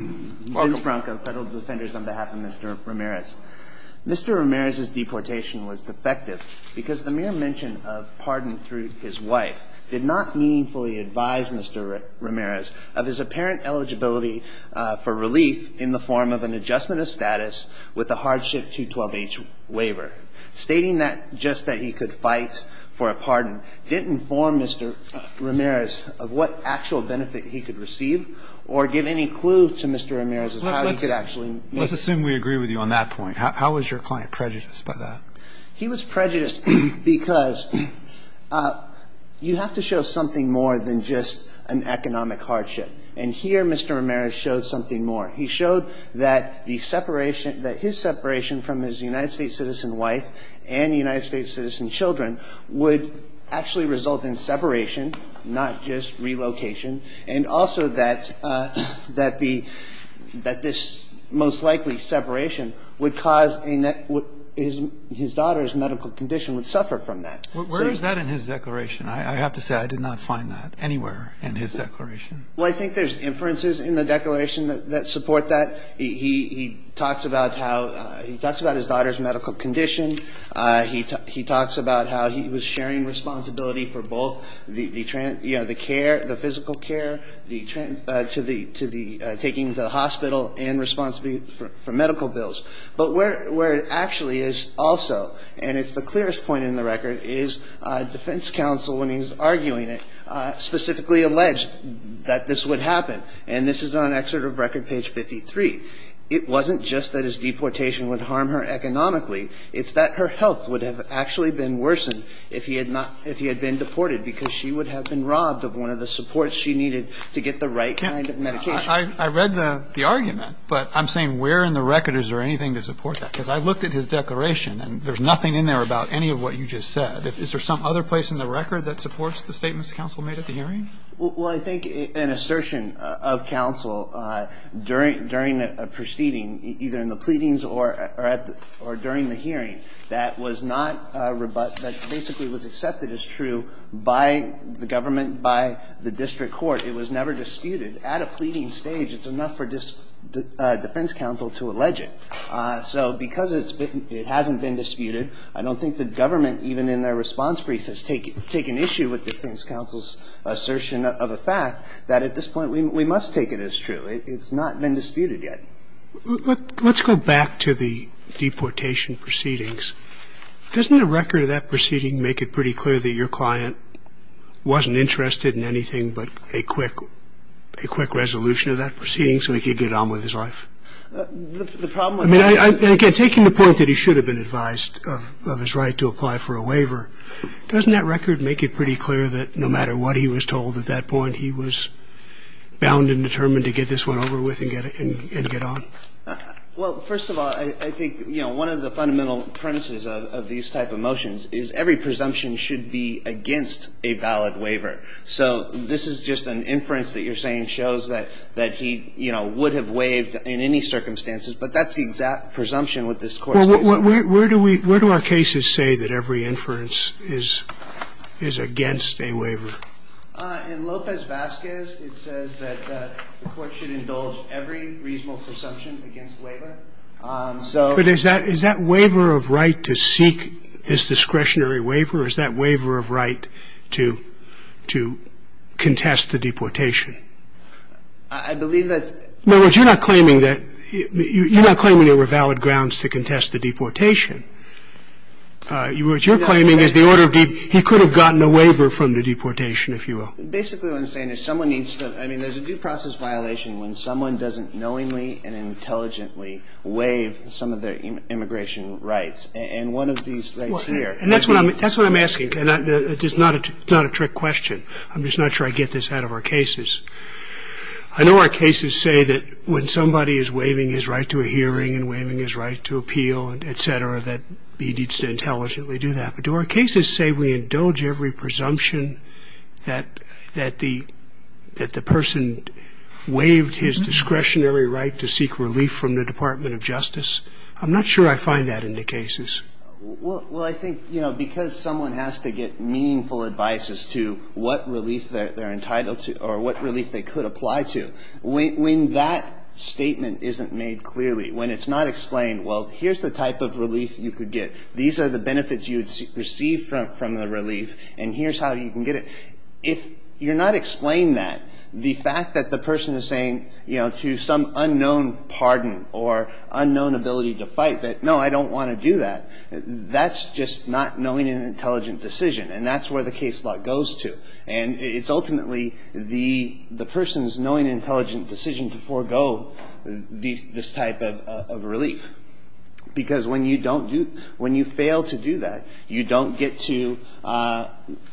Mr. Ramirez's deportation was defective because the mere mention of pardon through his wife did not meaningfully advise Mr. Ramirez of his apparent eligibility for relief in the form of an adjustment of status with a hardship 212H waiver. Stating that just that he could fight for a pardon didn't inform Mr. Ramirez of what actual benefit he could receive or give any clue to Mr. Ramirez of how he could actually make it. Let's assume we agree with you on that point. How was your client prejudiced by that? He was prejudiced because you have to show something more than just an economic hardship. And here Mr. Ramirez showed something more. He showed that the separation, that his separation from his United States citizen wife and United States citizen children would actually result in separation, not just relocation, and also that the – that this most likely separation would cause a – his daughter's medical condition would suffer from that. Where is that in his declaration? I have to say I did not find that anywhere in his declaration. Well, I think there's inferences in the declaration that support that. He talks about how – he talks about his daughter's medical condition. He talks about how he was sharing responsibility for both the – the care, the physical care, the – to the – taking to the hospital and responsibility for medical bills. But where it actually is also, and it's the clearest point in the record, is defense counsel, when he's arguing it, specifically alleged that this would happen. And this is on excerpt of Record Page 53. It wasn't just that his deportation would harm her economically. It's that her health would have actually been worsened if he had not – if he had been deported, because she would have been robbed of one of the supports she needed to get the right kind of medication. I read the argument, but I'm saying where in the record is there anything to support that? Because I looked at his declaration, and there's nothing in there about any of what you just said. Is there some other place in the record that supports the statements counsel made at the hearing? Well, I think an assertion of counsel during a proceeding, either in the pleadings or at the – or during the hearing, that was not – that basically was accepted as true by the government, by the district court, it was never disputed. At a pleading stage, it's enough for defense counsel to allege it. So because it's been – it hasn't been disputed, I don't think the government, even in their response brief, has taken issue with defense counsel's assertion of a fact that at this point we must take it as true. It's not been disputed yet. Let's go back to the deportation proceedings. Doesn't the record of that proceeding make it pretty clear that your client wasn't interested in anything but a quick – a quick resolution of that proceeding so he could get on with his life? The problem with that – I mean, again, taking the point that he should have been advised of his right to apply for a waiver, doesn't that record make it pretty clear that no matter what he was told at that point, he was bound and determined to get this one over with and get on? Well, first of all, I think, you know, one of the fundamental premises of these type of motions is every presumption should be against a valid waiver. So this is just an inference that you're saying shows that he, you know, would have waived in any circumstances, but that's the exact presumption with this court's case. Well, where do we – where do our cases say that every inference is against a waiver? In Lopez-Vazquez, it says that the court should indulge every reasonable presumption against waiver. So – But is that – is that waiver of right to seek his discretionary waiver? Is that waiver of right to – to contest the deportation? I believe that's – In other words, you're not claiming that – you're not claiming there were valid grounds to contest the deportation. What you're claiming is the order of – he could have gotten a waiver from the deportation, if you will. Basically, what I'm saying is someone needs to – I mean, there's a due process violation when someone doesn't knowingly and intelligently waive some of their immigration rights. And one of these rights here – Well, and that's what I'm – that's what I'm asking, and it's not a – it's not a trick question. I'm just not sure I get this out of our cases. I know our cases say that when somebody is waiving his right to a hearing and waiving his right to appeal and et cetera, that he needs to intelligently do that. But do our cases say we indulge every presumption that – that the – that the person waived his discretionary right to seek relief from the Department of Justice? I'm not sure I find that in the cases. Well, I think, you know, because someone has to get meaningful advice as to what relief they're entitled to or what relief they could apply to, when that statement isn't made clearly, when it's not explained, well, here's the type of relief you could get. These are the benefits you would receive from the relief, and here's how you can get it. If you're not explaining that, the fact that the person is saying, you know, to some unknown pardon or unknown ability to fight that, no, I don't want to do that, that's just not knowing and intelligent decision. And that's where the case law goes to. And it's ultimately the person's knowing and intelligent decision to forego this type of relief. Because when you don't do – when you fail to do that, you don't get to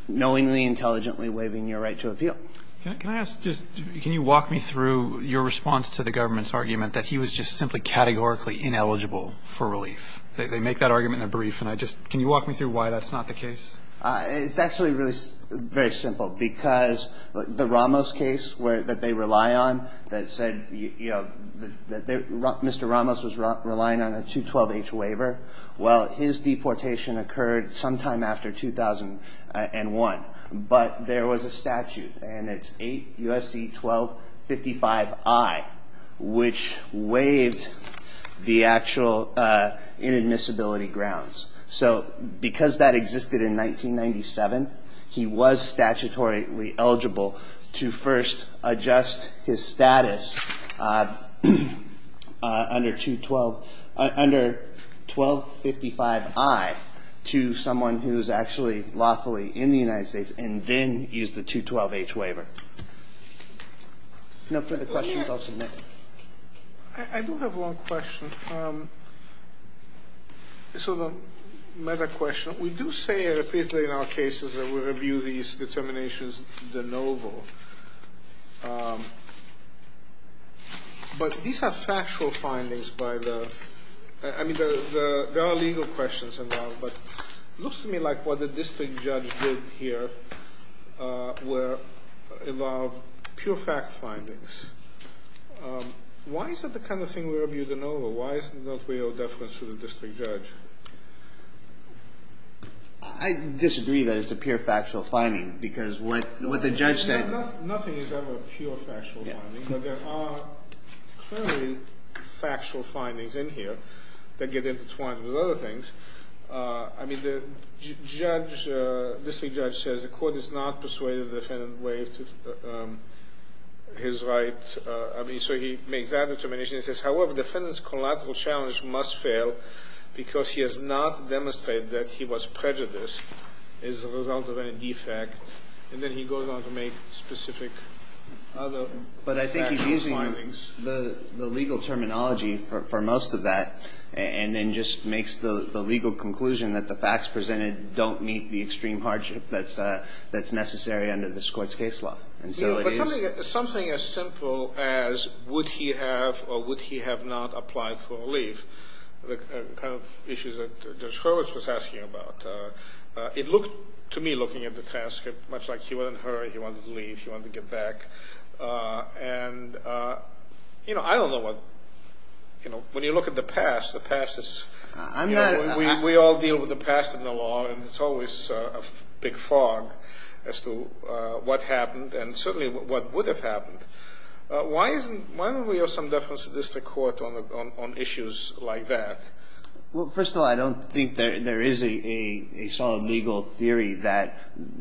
knowingly, intelligently waiving your right to appeal. Can I ask just – can you walk me through your response to the government's argument that he was just simply categorically ineligible for relief? They make that argument in a brief and I just – can you walk me through why that's not the case? It's actually really very simple. Because the Ramos case that they rely on, that said, you know, that Mr. Ramos was relying on a 212H waiver, well, his deportation occurred sometime after 2001. But there was a statute, and it's 8 U.S.C. 1255I, which waived the actual inadmissibility grounds. So because that existed in 1997, he was statutorily eligible to first adjust his status under 212 – under 1255I to someone who's actually lawfully in the United States and then use the 212H waiver. No further questions, I'll submit. I do have one question. It's sort of a meta-question. We do say repeatedly in our cases that we review these determinations de novo. But these are factual findings by the – I mean, there are legal questions involved. But it looks to me like what the district judge did here were – involved pure fact findings. Why is that the kind of thing we review de novo? Why is it not real deference to the district judge? I disagree that it's a pure factual finding. Because what the judge said – Nothing is ever a pure factual finding. But there are clearly factual findings in here that get intertwined with other things. I mean, the judge – the district judge says the court is not persuaded the defendant waived his right. I mean, so he makes that determination. He says, however, the defendant's collateral challenge must fail because he has not demonstrated that he was prejudiced as a result of any defect. And then he goes on to make specific other factual findings. The legal terminology for most of that and then just makes the legal conclusion that the facts presented don't meet the extreme hardship that's necessary under this Court's case law. And so it is – But something as simple as would he have or would he have not applied for a leave, the kind of issues that Judge Hurwitz was asking about, it looked to me, looking at the transcript, much like he wouldn't hurry, he wanted to leave, he wanted to get back. And, you know, I don't know what – you know, when you look at the past, the past is – I'm not – We all deal with the past in the law. And it's always a big fog as to what happened and certainly what would have happened. Why isn't – why don't we have some deference to the district court on issues like that? Well, first of all, I don't think there is a solid legal theory that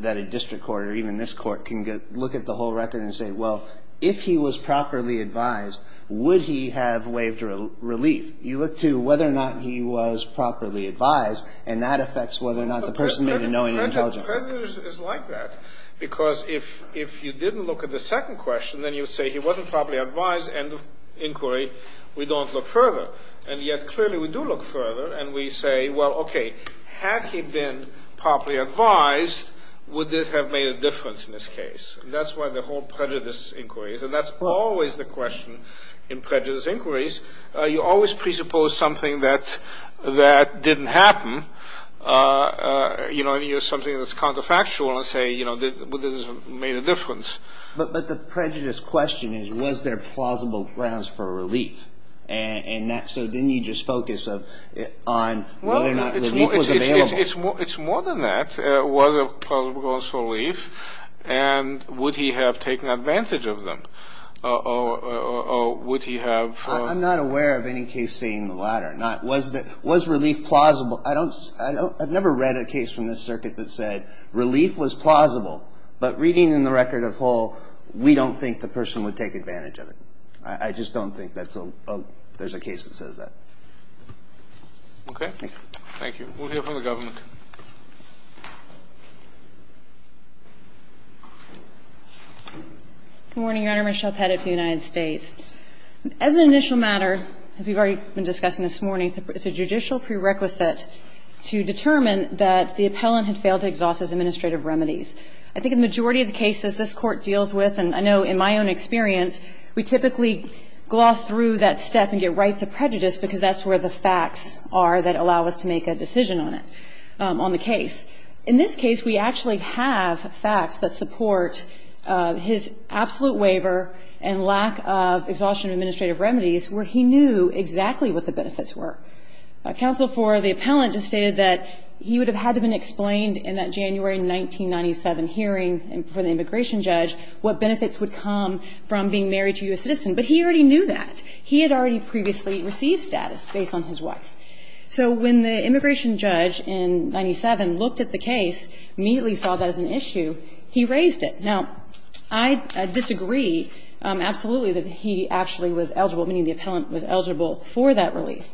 a district court or even this Court can look at the whole record and say, well, if he was properly advised, would he have waived relief? You look to whether or not he was properly advised, and that affects whether or not the person made a knowing and intelligent verdict. But prejudice is like that, because if you didn't look at the second question, then you would say he wasn't properly advised, end of inquiry, we don't look further. And yet, clearly, we do look further, and we say, well, okay, had he been properly advised, would this have made a difference in this case? And that's why the whole prejudice inquiry is – and that's always the question in prejudice inquiries. You always presuppose something that didn't happen, you know, and use something that's counterfactual and say, you know, would this have made a difference? But the prejudice question is, was there plausible grounds for relief? And so then you just focus on whether or not relief was available. Well, it's more than that. Was there plausible grounds for relief? And would he have taken advantage of them? Or would he have – I'm not aware of any case saying the latter. Was relief plausible? I've never read a case from this circuit that said relief was plausible, but reading in the record of Hall, we don't think the person would take advantage of it. I just don't think that's a – there's a case that says that. Okay. Thank you. Thank you. We'll hear from the government. Good morning, Your Honor. Michelle Pettit from the United States. As an initial matter, as we've already been discussing this morning, it's a judicial prerequisite to determine that the appellant had failed to exhaust his administrative remedies. I think in the majority of the cases this Court deals with, and I know in my own experience, we typically gloss through that step and get right to prejudice because that's where the facts are that allow us to make a decision on it, on the case. In this case, we actually have facts that support his absolute waiver and lack of exhaustion of administrative remedies where he knew exactly what the benefits were. Counsel for the appellant just stated that he would have had to have been explained in that January 1997 hearing for the immigration judge what benefits would come from being married to a U.S. citizen, but he already knew that. He had already previously received status based on his wife. So when the immigration judge in 1997 looked at the case, immediately saw that as an issue, he raised it. Now, I disagree absolutely that he actually was eligible, meaning the appellant was eligible for that relief.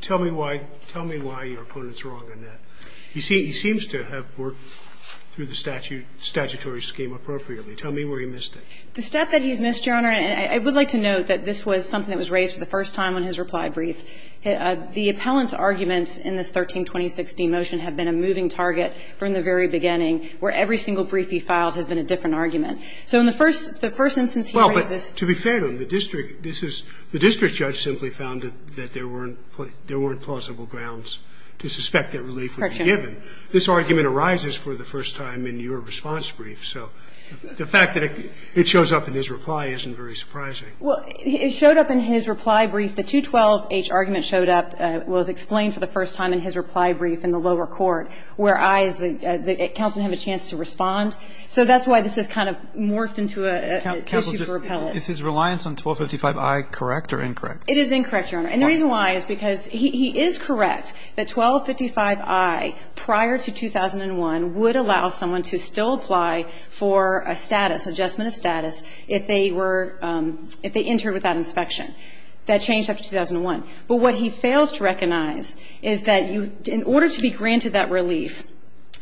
Tell me why your opponent's wrong on that. He seems to have worked through the statutory scheme appropriately. Tell me where he missed it. The step that he's missed, Your Honor, and I would like to note that this was something that was raised for the first time on his reply brief. The appellant's arguments in this 13-2016 motion have been a moving target from the very beginning, where every single brief he filed has been a different argument. So in the first instance he raises this. Well, but to be fair to him, the district judge simply found that there weren't plausible grounds to suspect that relief would be given. Correction. This argument arises for the first time in your response brief. So the fact that it shows up in his reply isn't very surprising. Well, it showed up in his reply brief. The 212-H argument showed up, was explained for the first time in his reply brief in the lower court, where I as the counsel didn't have a chance to respond. So that's why this has kind of morphed into an issue for appellants. Counsel, just, is his reliance on 1255I correct or incorrect? It is incorrect, Your Honor. And the reason why is because he is correct that 1255I prior to 2001 would allow someone to still apply for a status, adjustment of status if they were, if they entered without inspection. That changed after 2001. But what he fails to recognize is that you, in order to be granted that relief,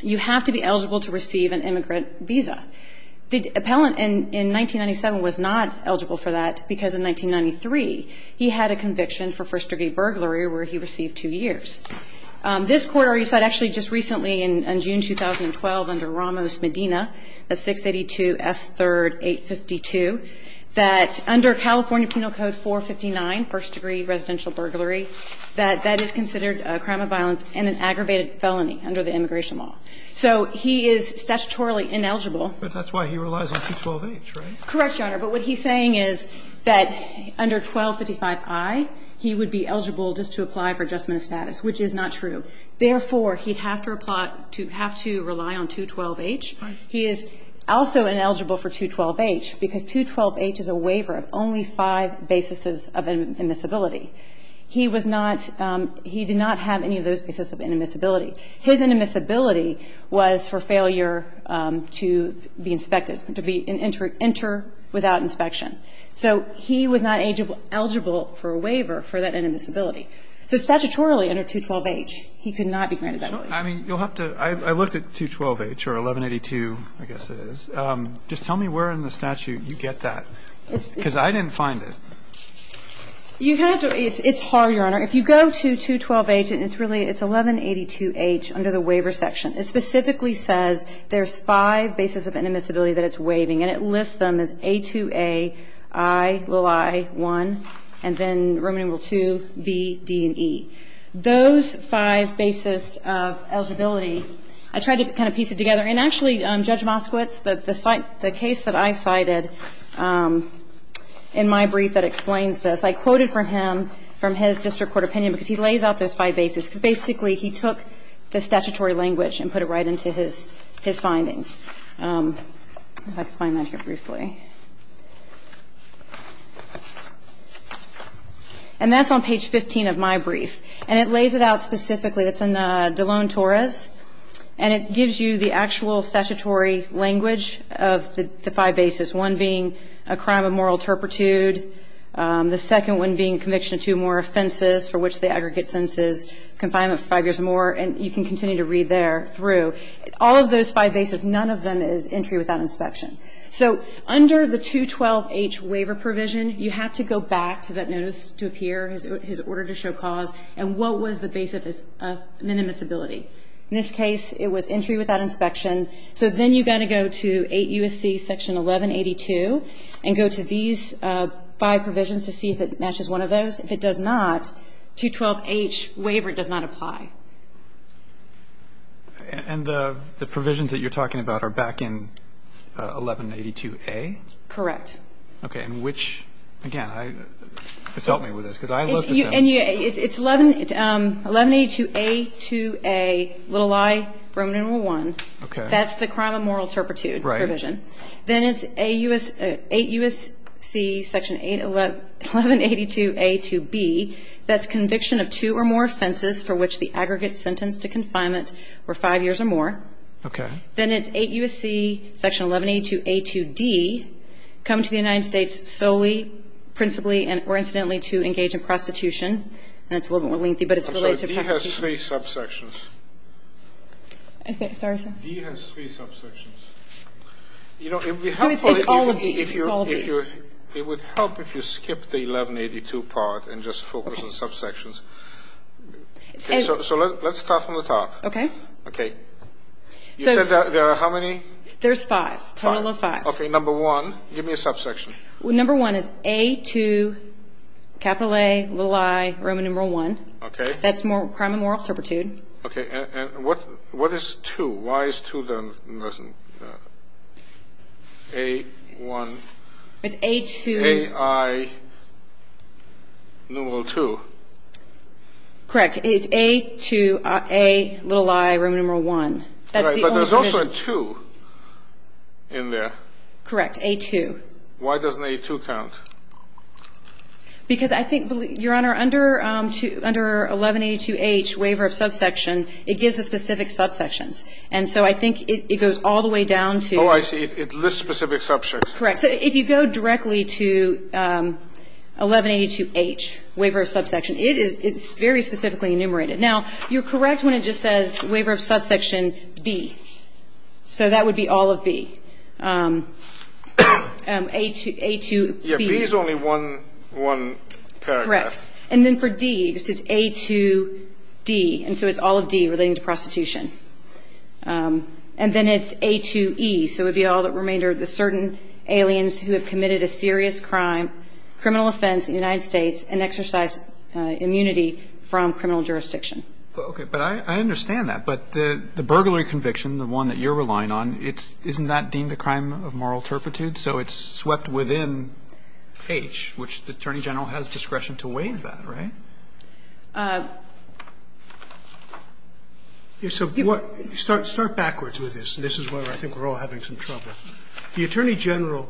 you have to be eligible to receive an immigrant visa. The appellant in 1997 was not eligible for that because in 1993 he had a conviction for first-degree burglary where he received two years. This Court already said actually just recently in June 2012 under Ramos-Medina at 682 F. 3rd 852, that under California Penal Code 459, first-degree residential burglary, that that is considered a crime of violence and an aggravated felony under the immigration law. So he is statutorily ineligible. But that's why he relies on 212-H, right? Correct, Your Honor. But what he's saying is that under 1255I he would be eligible just to apply for adjustment of status, which is not true. Therefore, he'd have to apply, to have to rely on 212-H. Right. He is also ineligible for 212-H because 212-H is a waiver of only five bases of immiscibility. He was not, he did not have any of those bases of inimmiscibility. His inimmiscibility was for failure to be inspected, to be, enter without inspection. So he was not eligible for a waiver for that inimmiscibility. So statutorily under 212-H, he could not be granted that waiver. I mean, you'll have to, I looked at 212-H or 1182, I guess it is. Just tell me where in the statute you get that. Because I didn't find it. You have to, it's hard, Your Honor. If you go to 212-H and it's really, it's 1182-H under the waiver section. It specifically says there's five bases of inimmiscibility that it's waiving and it lists them as A2A, I, little i, 1, and then Roman numeral 2, B, D, and E. Those five bases of eligibility, I tried to kind of piece it together. And actually, Judge Moskowitz, the case that I cited in my brief that explains this, I quoted from him from his district court opinion because he lays out those five bases because basically he took the statutory language and put it right into his findings. If I can find that here briefly. And that's on page 15 of my brief. And it lays it out specifically, it's in DeLone-Torres, and it gives you the actual statutory language of the five bases, one being a crime of moral turpitude, the second one being conviction of two or more offenses for which the aggregate sentence is confinement for five years or more, and you can continue to read there through. All of those five bases, none of them is entry without inspection. So under the 212H waiver provision, you have to go back to that notice to appear, his order to show cause, and what was the base of minimiscibility. In this case, it was entry without inspection. So then you've got to go to 8 U.S.C. section 1182 and go to these five provisions to see if it matches one of those. If it does not, 212H waiver does not apply. And the provisions that you're talking about are back in 1182A? Correct. Okay. And which, again, help me with this, because I looked at them. It's 1182A2A, little i, Roman numeral 1. Okay. That's the crime of moral turpitude provision. Right. Then it's 8 U.S.C. section 1182A2B. That's conviction of two or more offenses for which the aggregate sentence to confinement were five years or more. Okay. Then it's 8 U.S.C. section 1182A2D. Come to the United States solely, principally, or incidentally to engage in prostitution. And it's a little bit more lengthy, but it's related to prostitution. I'm sorry. D has three subsections. Sorry, sir? D has three subsections. So it's all of D. It would help if you skip the 1182 part and just focus on subsections. Okay. So let's start from the top. Okay. Okay. You said there are how many? There's five. Total of five. Okay. Number one. Give me a subsection. Number one is A2, capital A, little i, Roman numeral 1. Okay. That's crime of moral turpitude. Okay. And what is 2? Why is 2 less than A1? It's A2. A, I, numeral 2. Correct. It's A2, A, little i, Roman numeral 1. But there's also a 2 in there. Correct. A2. Why doesn't A2 count? Because I think, Your Honor, under 1182H, waiver of subsection, it gives the specific subsections. And so I think it goes all the way down to. Oh, I see. It lists specific subsections. Correct. So if you go directly to 1182H, waiver of subsection, it is very specifically enumerated. Now, you're correct when it just says waiver of subsection B. So that would be all of B. A2B. Yeah, B is only one paragraph. Correct. And then for D, it says A2D. And so it's all of D relating to prostitution. And then it's A2E. So it would be all that remained are the certain aliens who have committed a serious crime, criminal offense in the United States, and exercise immunity from criminal jurisdiction. Okay. But I understand that. But the burglary conviction, the one that you're relying on, isn't that deemed a crime of moral turpitude? So it's swept within H, which the Attorney General has discretion to waive that, right? So start backwards with this. This is where I think we're all having some trouble. The Attorney General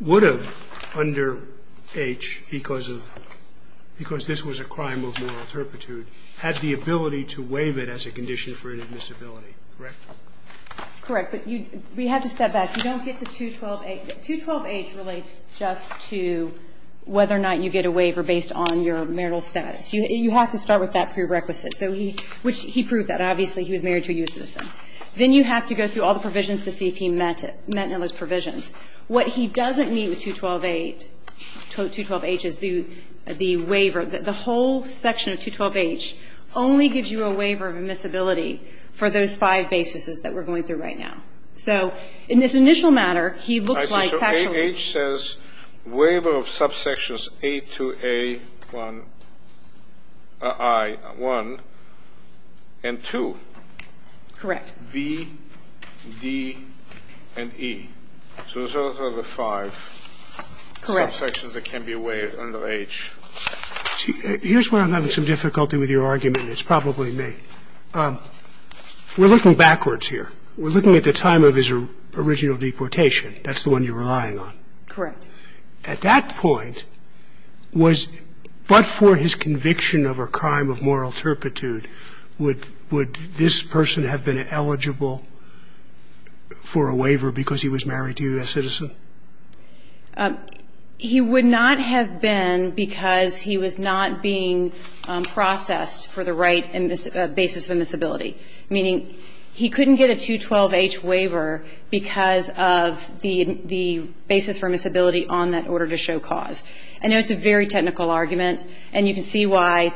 would have, under H, because of this was a crime of moral turpitude, had the ability to waive it as a condition for inadmissibility, correct? Correct. But we have to step back. You don't get to 212H. 212H relates just to whether or not you get a waiver based on your marital status. You have to start with that prerequisite, which he proved that. Obviously, he was married to a U.S. citizen. Then you have to go through all the provisions to see if he met any of those provisions. What he doesn't meet with 212H is the waiver. The whole section of 212H only gives you a waiver of admissibility for those five basis that we're going through right now. So in this initial matter, he looks like actually ---- So H says waiver of subsections A to A1, I, 1, and 2. Correct. B, D, and E. So those are the five ---- Correct. ----subsections that can be waived under H. Here's where I'm having some difficulty with your argument, and it's probably me. We're looking backwards here. We're looking at the time of his original deportation. That's the one you're relying on. Correct. At that point, was ---- but for his conviction of a crime of moral turpitude, would this person have been eligible for a waiver because he was married to a U.S. citizen? He would not have been because he was not being processed for the right basis of admissibility. Meaning he couldn't get a 212H waiver because of the basis for admissibility on that order to show cause. I know it's a very technical argument, and you can see why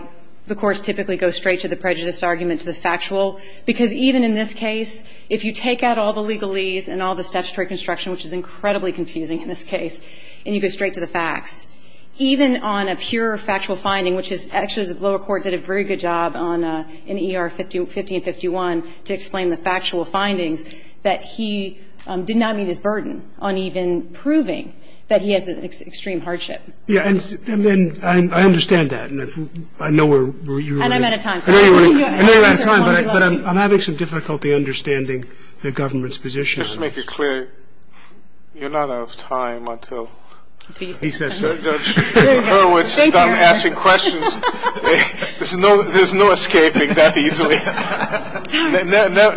the courts typically go straight to the prejudice argument, to the factual. Because even in this case, if you take out all the legalese and all the statutory construction, which is incredibly confusing in this case, and you go straight to the facts, even on a pure factual finding, which is actually the lower court did a very good job on in ER 50 and 51 to explain the factual findings, that he did not meet his burden on even proving that he has an extreme hardship. Yeah, and I understand that. I know where you're at. And I'm out of time. I know you're out of time, but I'm having some difficulty understanding the government's position. Just to make it clear, you're not out of time until he says so. Thank you. Thank you, Eric. There's no escaping that easily.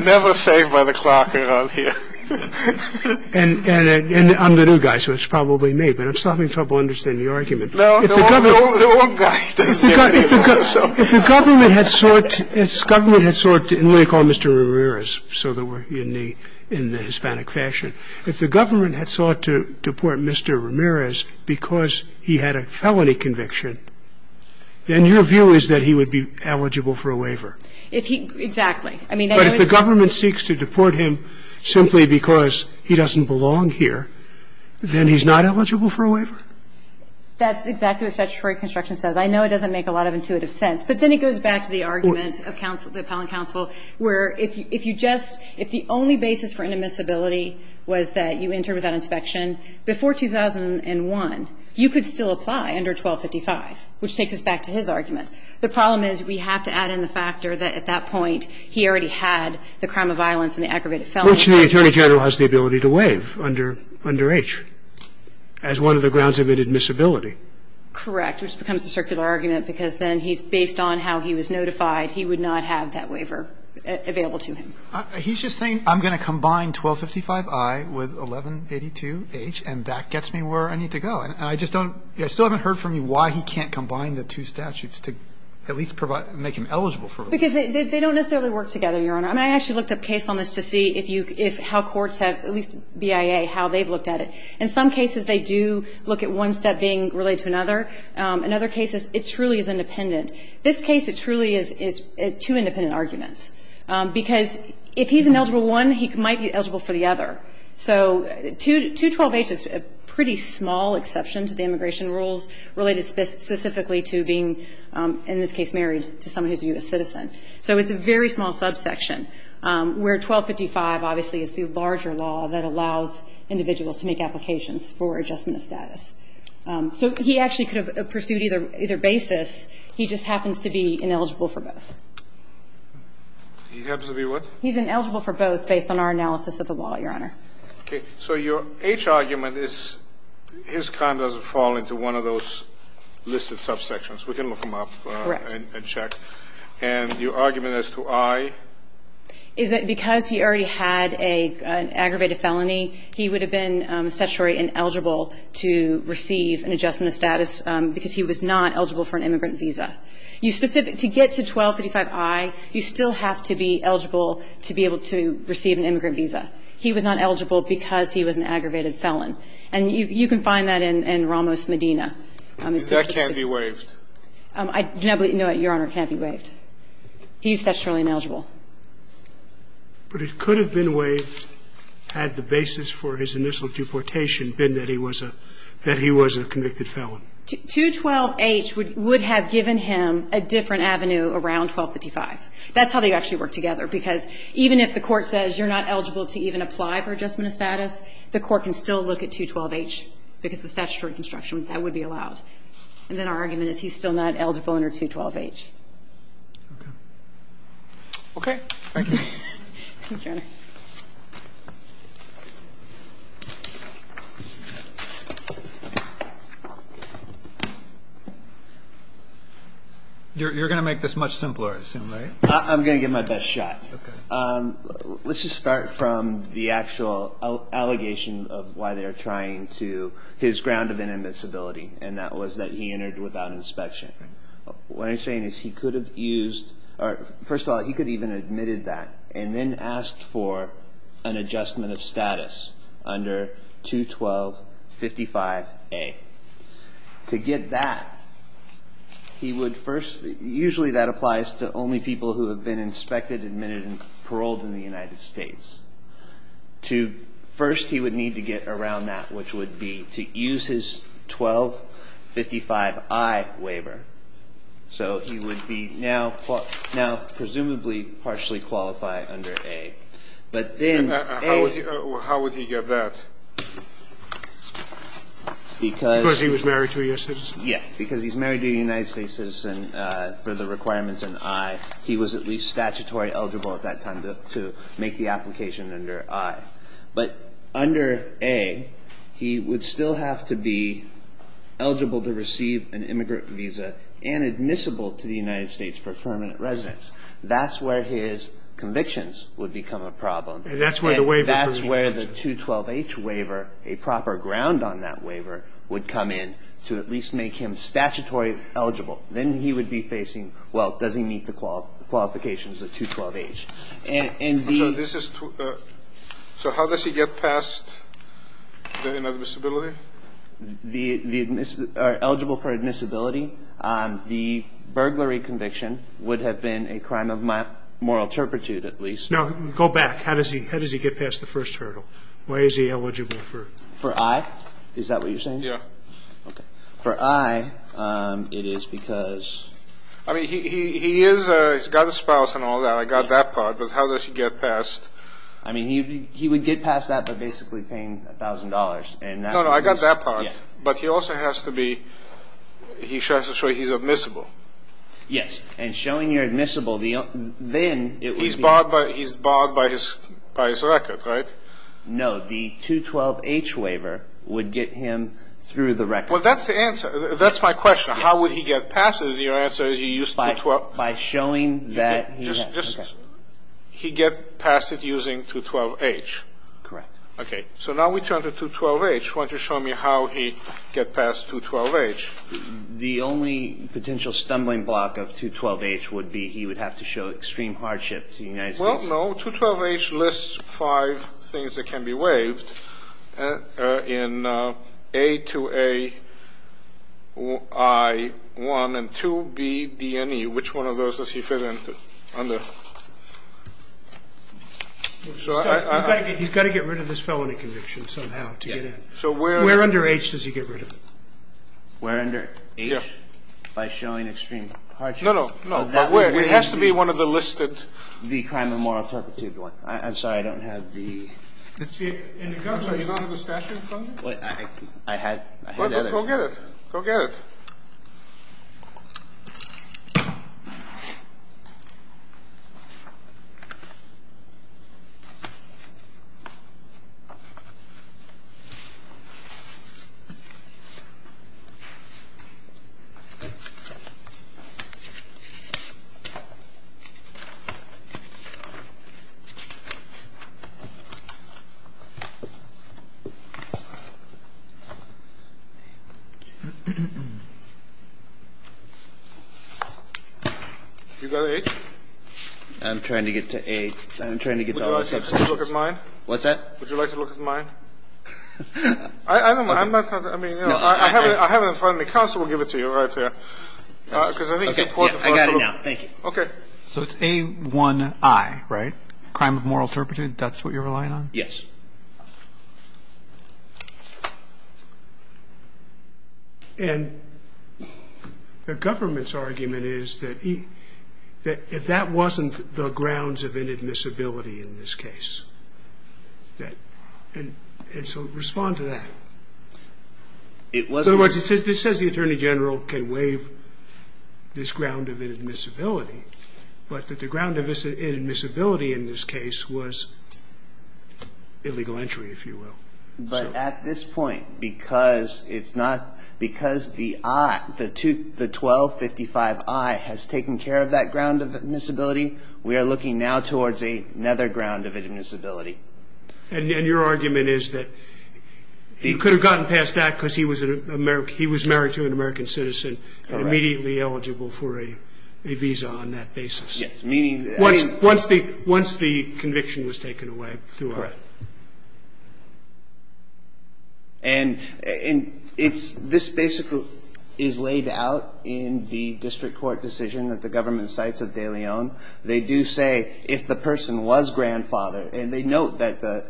Never saved by the clock around here. And I'm the new guy, so it's probably me, but I'm still having trouble understanding the argument. No, the old guy. If the government had sought to deport Mr. Ramirez, because he had been convicted, then your view is that he would be eligible for a waiver. Exactly. But if the government seeks to deport him simply because he doesn't belong here, then he's not eligible for a waiver? That's exactly what statutory construction says. I know it doesn't make a lot of intuitive sense, but then it goes back to the argument of counsel, the appellant counsel, where if you just, if the only basis for inadmissibility was that you enter without inspection, before 2001, you could still apply under 1255, which takes us back to his argument. The problem is we have to add in the factor that at that point he already had the crime of violence and the aggravated felonies. Which the Attorney General has the ability to waive under H as one of the grounds of inadmissibility. Correct, which becomes a circular argument, because then he's, based on how he was notified, he would not have that waiver available to him. He's just saying I'm going to combine 1255I with 1182H, and that gets me where I need to go, and I just don't, I still haven't heard from you why he can't combine the two statutes to at least provide, make him eligible for a waiver. Because they don't necessarily work together, Your Honor. I mean, I actually looked at a case on this to see if you, if how courts have, at least BIA, how they've looked at it. In some cases, they do look at one step being related to another. In other cases, it truly is independent. This case, it truly is two independent arguments. Because if he's an eligible one, he might be eligible for the other. So 212H is a pretty small exception to the immigration rules related specifically to being, in this case, married to someone who's a U.S. citizen. So it's a very small subsection, where 1255 obviously is the larger law that allows individuals to make applications for adjustment of status. So he actually could have pursued either basis. He just happens to be ineligible for both. He happens to be what? He's ineligible for both based on our analysis of the law, Your Honor. Okay. So your H argument is his crime doesn't fall into one of those listed subsections. We can look them up and check. Correct. And your argument as to I? Is that because he already had an aggravated felony, he would have been statutory ineligible to receive an adjustment of status because he was not eligible for an immigrant visa. You specific to get to 1255I, you still have to be eligible to be able to receive an immigrant visa. He was not eligible because he was an aggravated felon. And you can find that in Ramos Medina. That can't be waived. No, Your Honor, it can't be waived. He's statutorily ineligible. But it could have been waived had the basis for his initial deportation been that he was a convicted felon. 212H would have given him a different avenue around 1255. That's how they actually work together because even if the court says you're not eligible to even apply for adjustment of status, the court can still look at 212H because the statutory construction, that would be allowed. And then our argument is he's still not eligible under 212H. Okay. Thank you. Thank you, Your Honor. Thank you. You're going to make this much simpler, I assume, right? I'm going to give my best shot. Okay. Let's just start from the actual allegation of why they're trying to his ground of inadmissibility, and that was that he entered without inspection. What I'm saying is he could have used or, first of all, he could have even admitted that and then asked for an adjustment of status under 21255A. To get that, he would first, usually that applies to only people who have been inspected, admitted, and paroled in the United States. First, he would need to get around that, which would be to use his 1255I waiver. So he would be now presumably partially qualified under A. But then A How would he get that? Because he was married to a U.S. citizen? Yes. Because he's married to a United States citizen for the requirements in I, he was at least statutory eligible at that time to make the application under I. But under A, he would still have to be eligible to receive an immigrant visa and admissible to the United States for permanent residence. That's where his convictions would become a problem. And that's where the waiver comes in. And that's where the 212H waiver, a proper ground on that waiver, would come in to at least make him statutory eligible. Then he would be facing, well, does he meet the qualifications of 212H? And the So this is, so how does he get past the inadmissibility? The eligible for admissibility. The burglary conviction would have been a crime of moral turpitude at least. Now, go back. How does he get past the first hurdle? Why is he eligible for For I? Is that what you're saying? Yeah. Okay. For I, it is because I mean, he is, he's got a spouse and all that. I got that part. But how does he get past I mean, he would get past that by basically paying $1,000. No, no. I got that part. But he also has to be, he has to show he's admissible. Yes. And showing you're admissible, then He's barred by his record, right? No. The 212H waiver would get him through the record. Well, that's the answer. That's my question. How would he get past it? And your answer is he used to By showing that He gets past it using 212H. Correct. Okay. So now we turn to 212H. Why don't you show me how he gets past 212H. The only potential stumbling block of 212H would be he would have to show extreme hardship to the United States. Well, no. 212H lists five things that can be waived. In A, 2A, I, 1, and 2B, D, and E. Which one of those does he fit in under? He's got to get rid of this felony conviction somehow to get in. Where under H does he get rid of it? Where under H? Yeah. By showing extreme hardship. No, no. It has to be one of the listed. The crime of moral perpetuity one. I'm sorry, I don't have the In the gun, are you talking about the statute funding? I had other Go get it. Go get it. You got A? I'm trying to get to A. Would you like to look at mine? What's that? Would you like to look at mine? I haven't found it. Counsel will give it to you right there. I got it now. Thank you. Okay. So it's A, 1, I, right? Crime of moral perpetuity, that's what you're relying on? Yes. And the government's argument is that if that wasn't the grounds of inadmissibility in this case, and so respond to that. It wasn't. In other words, this says the attorney general can waive this ground of inadmissibility, but that the ground of inadmissibility in this case was illegal entry, if you will. But at this point, because it's not, because the I, the 1255I has taken care of that ground of inadmissibility, we are looking now towards another ground of inadmissibility. And your argument is that he could have gotten past that because he was married to an American citizen and immediately eligible for a visa on that basis. Yes. Once the conviction was taken away. Correct. And this basically is laid out in the district court decision that the government cites at De Leon. They do say if the person was grandfathered, and they note that the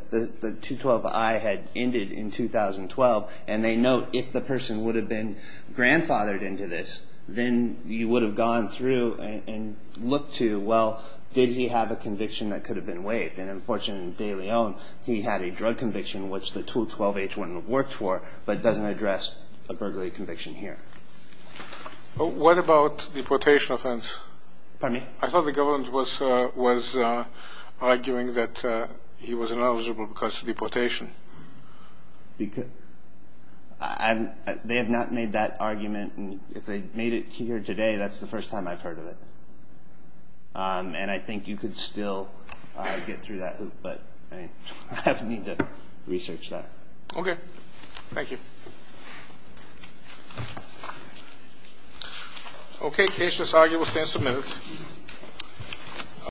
212I had ended in 2012, and they note if the person would have been grandfathered into this, then you would have gone through and looked to, well, did he have a conviction that could have been waived? And unfortunately, in De Leon, he had a drug conviction, which the 212H wouldn't have worked for, but doesn't address a burglary conviction here. What about deportation offense? Pardon me? I thought the government was arguing that he was ineligible because of deportation. They have not made that argument, and if they made it here today, that's the first time I've heard of it. And I think you could still get through that, but I mean, I would need to research that. Okay. Thank you. Okay. Case is argued. We'll stand submitted.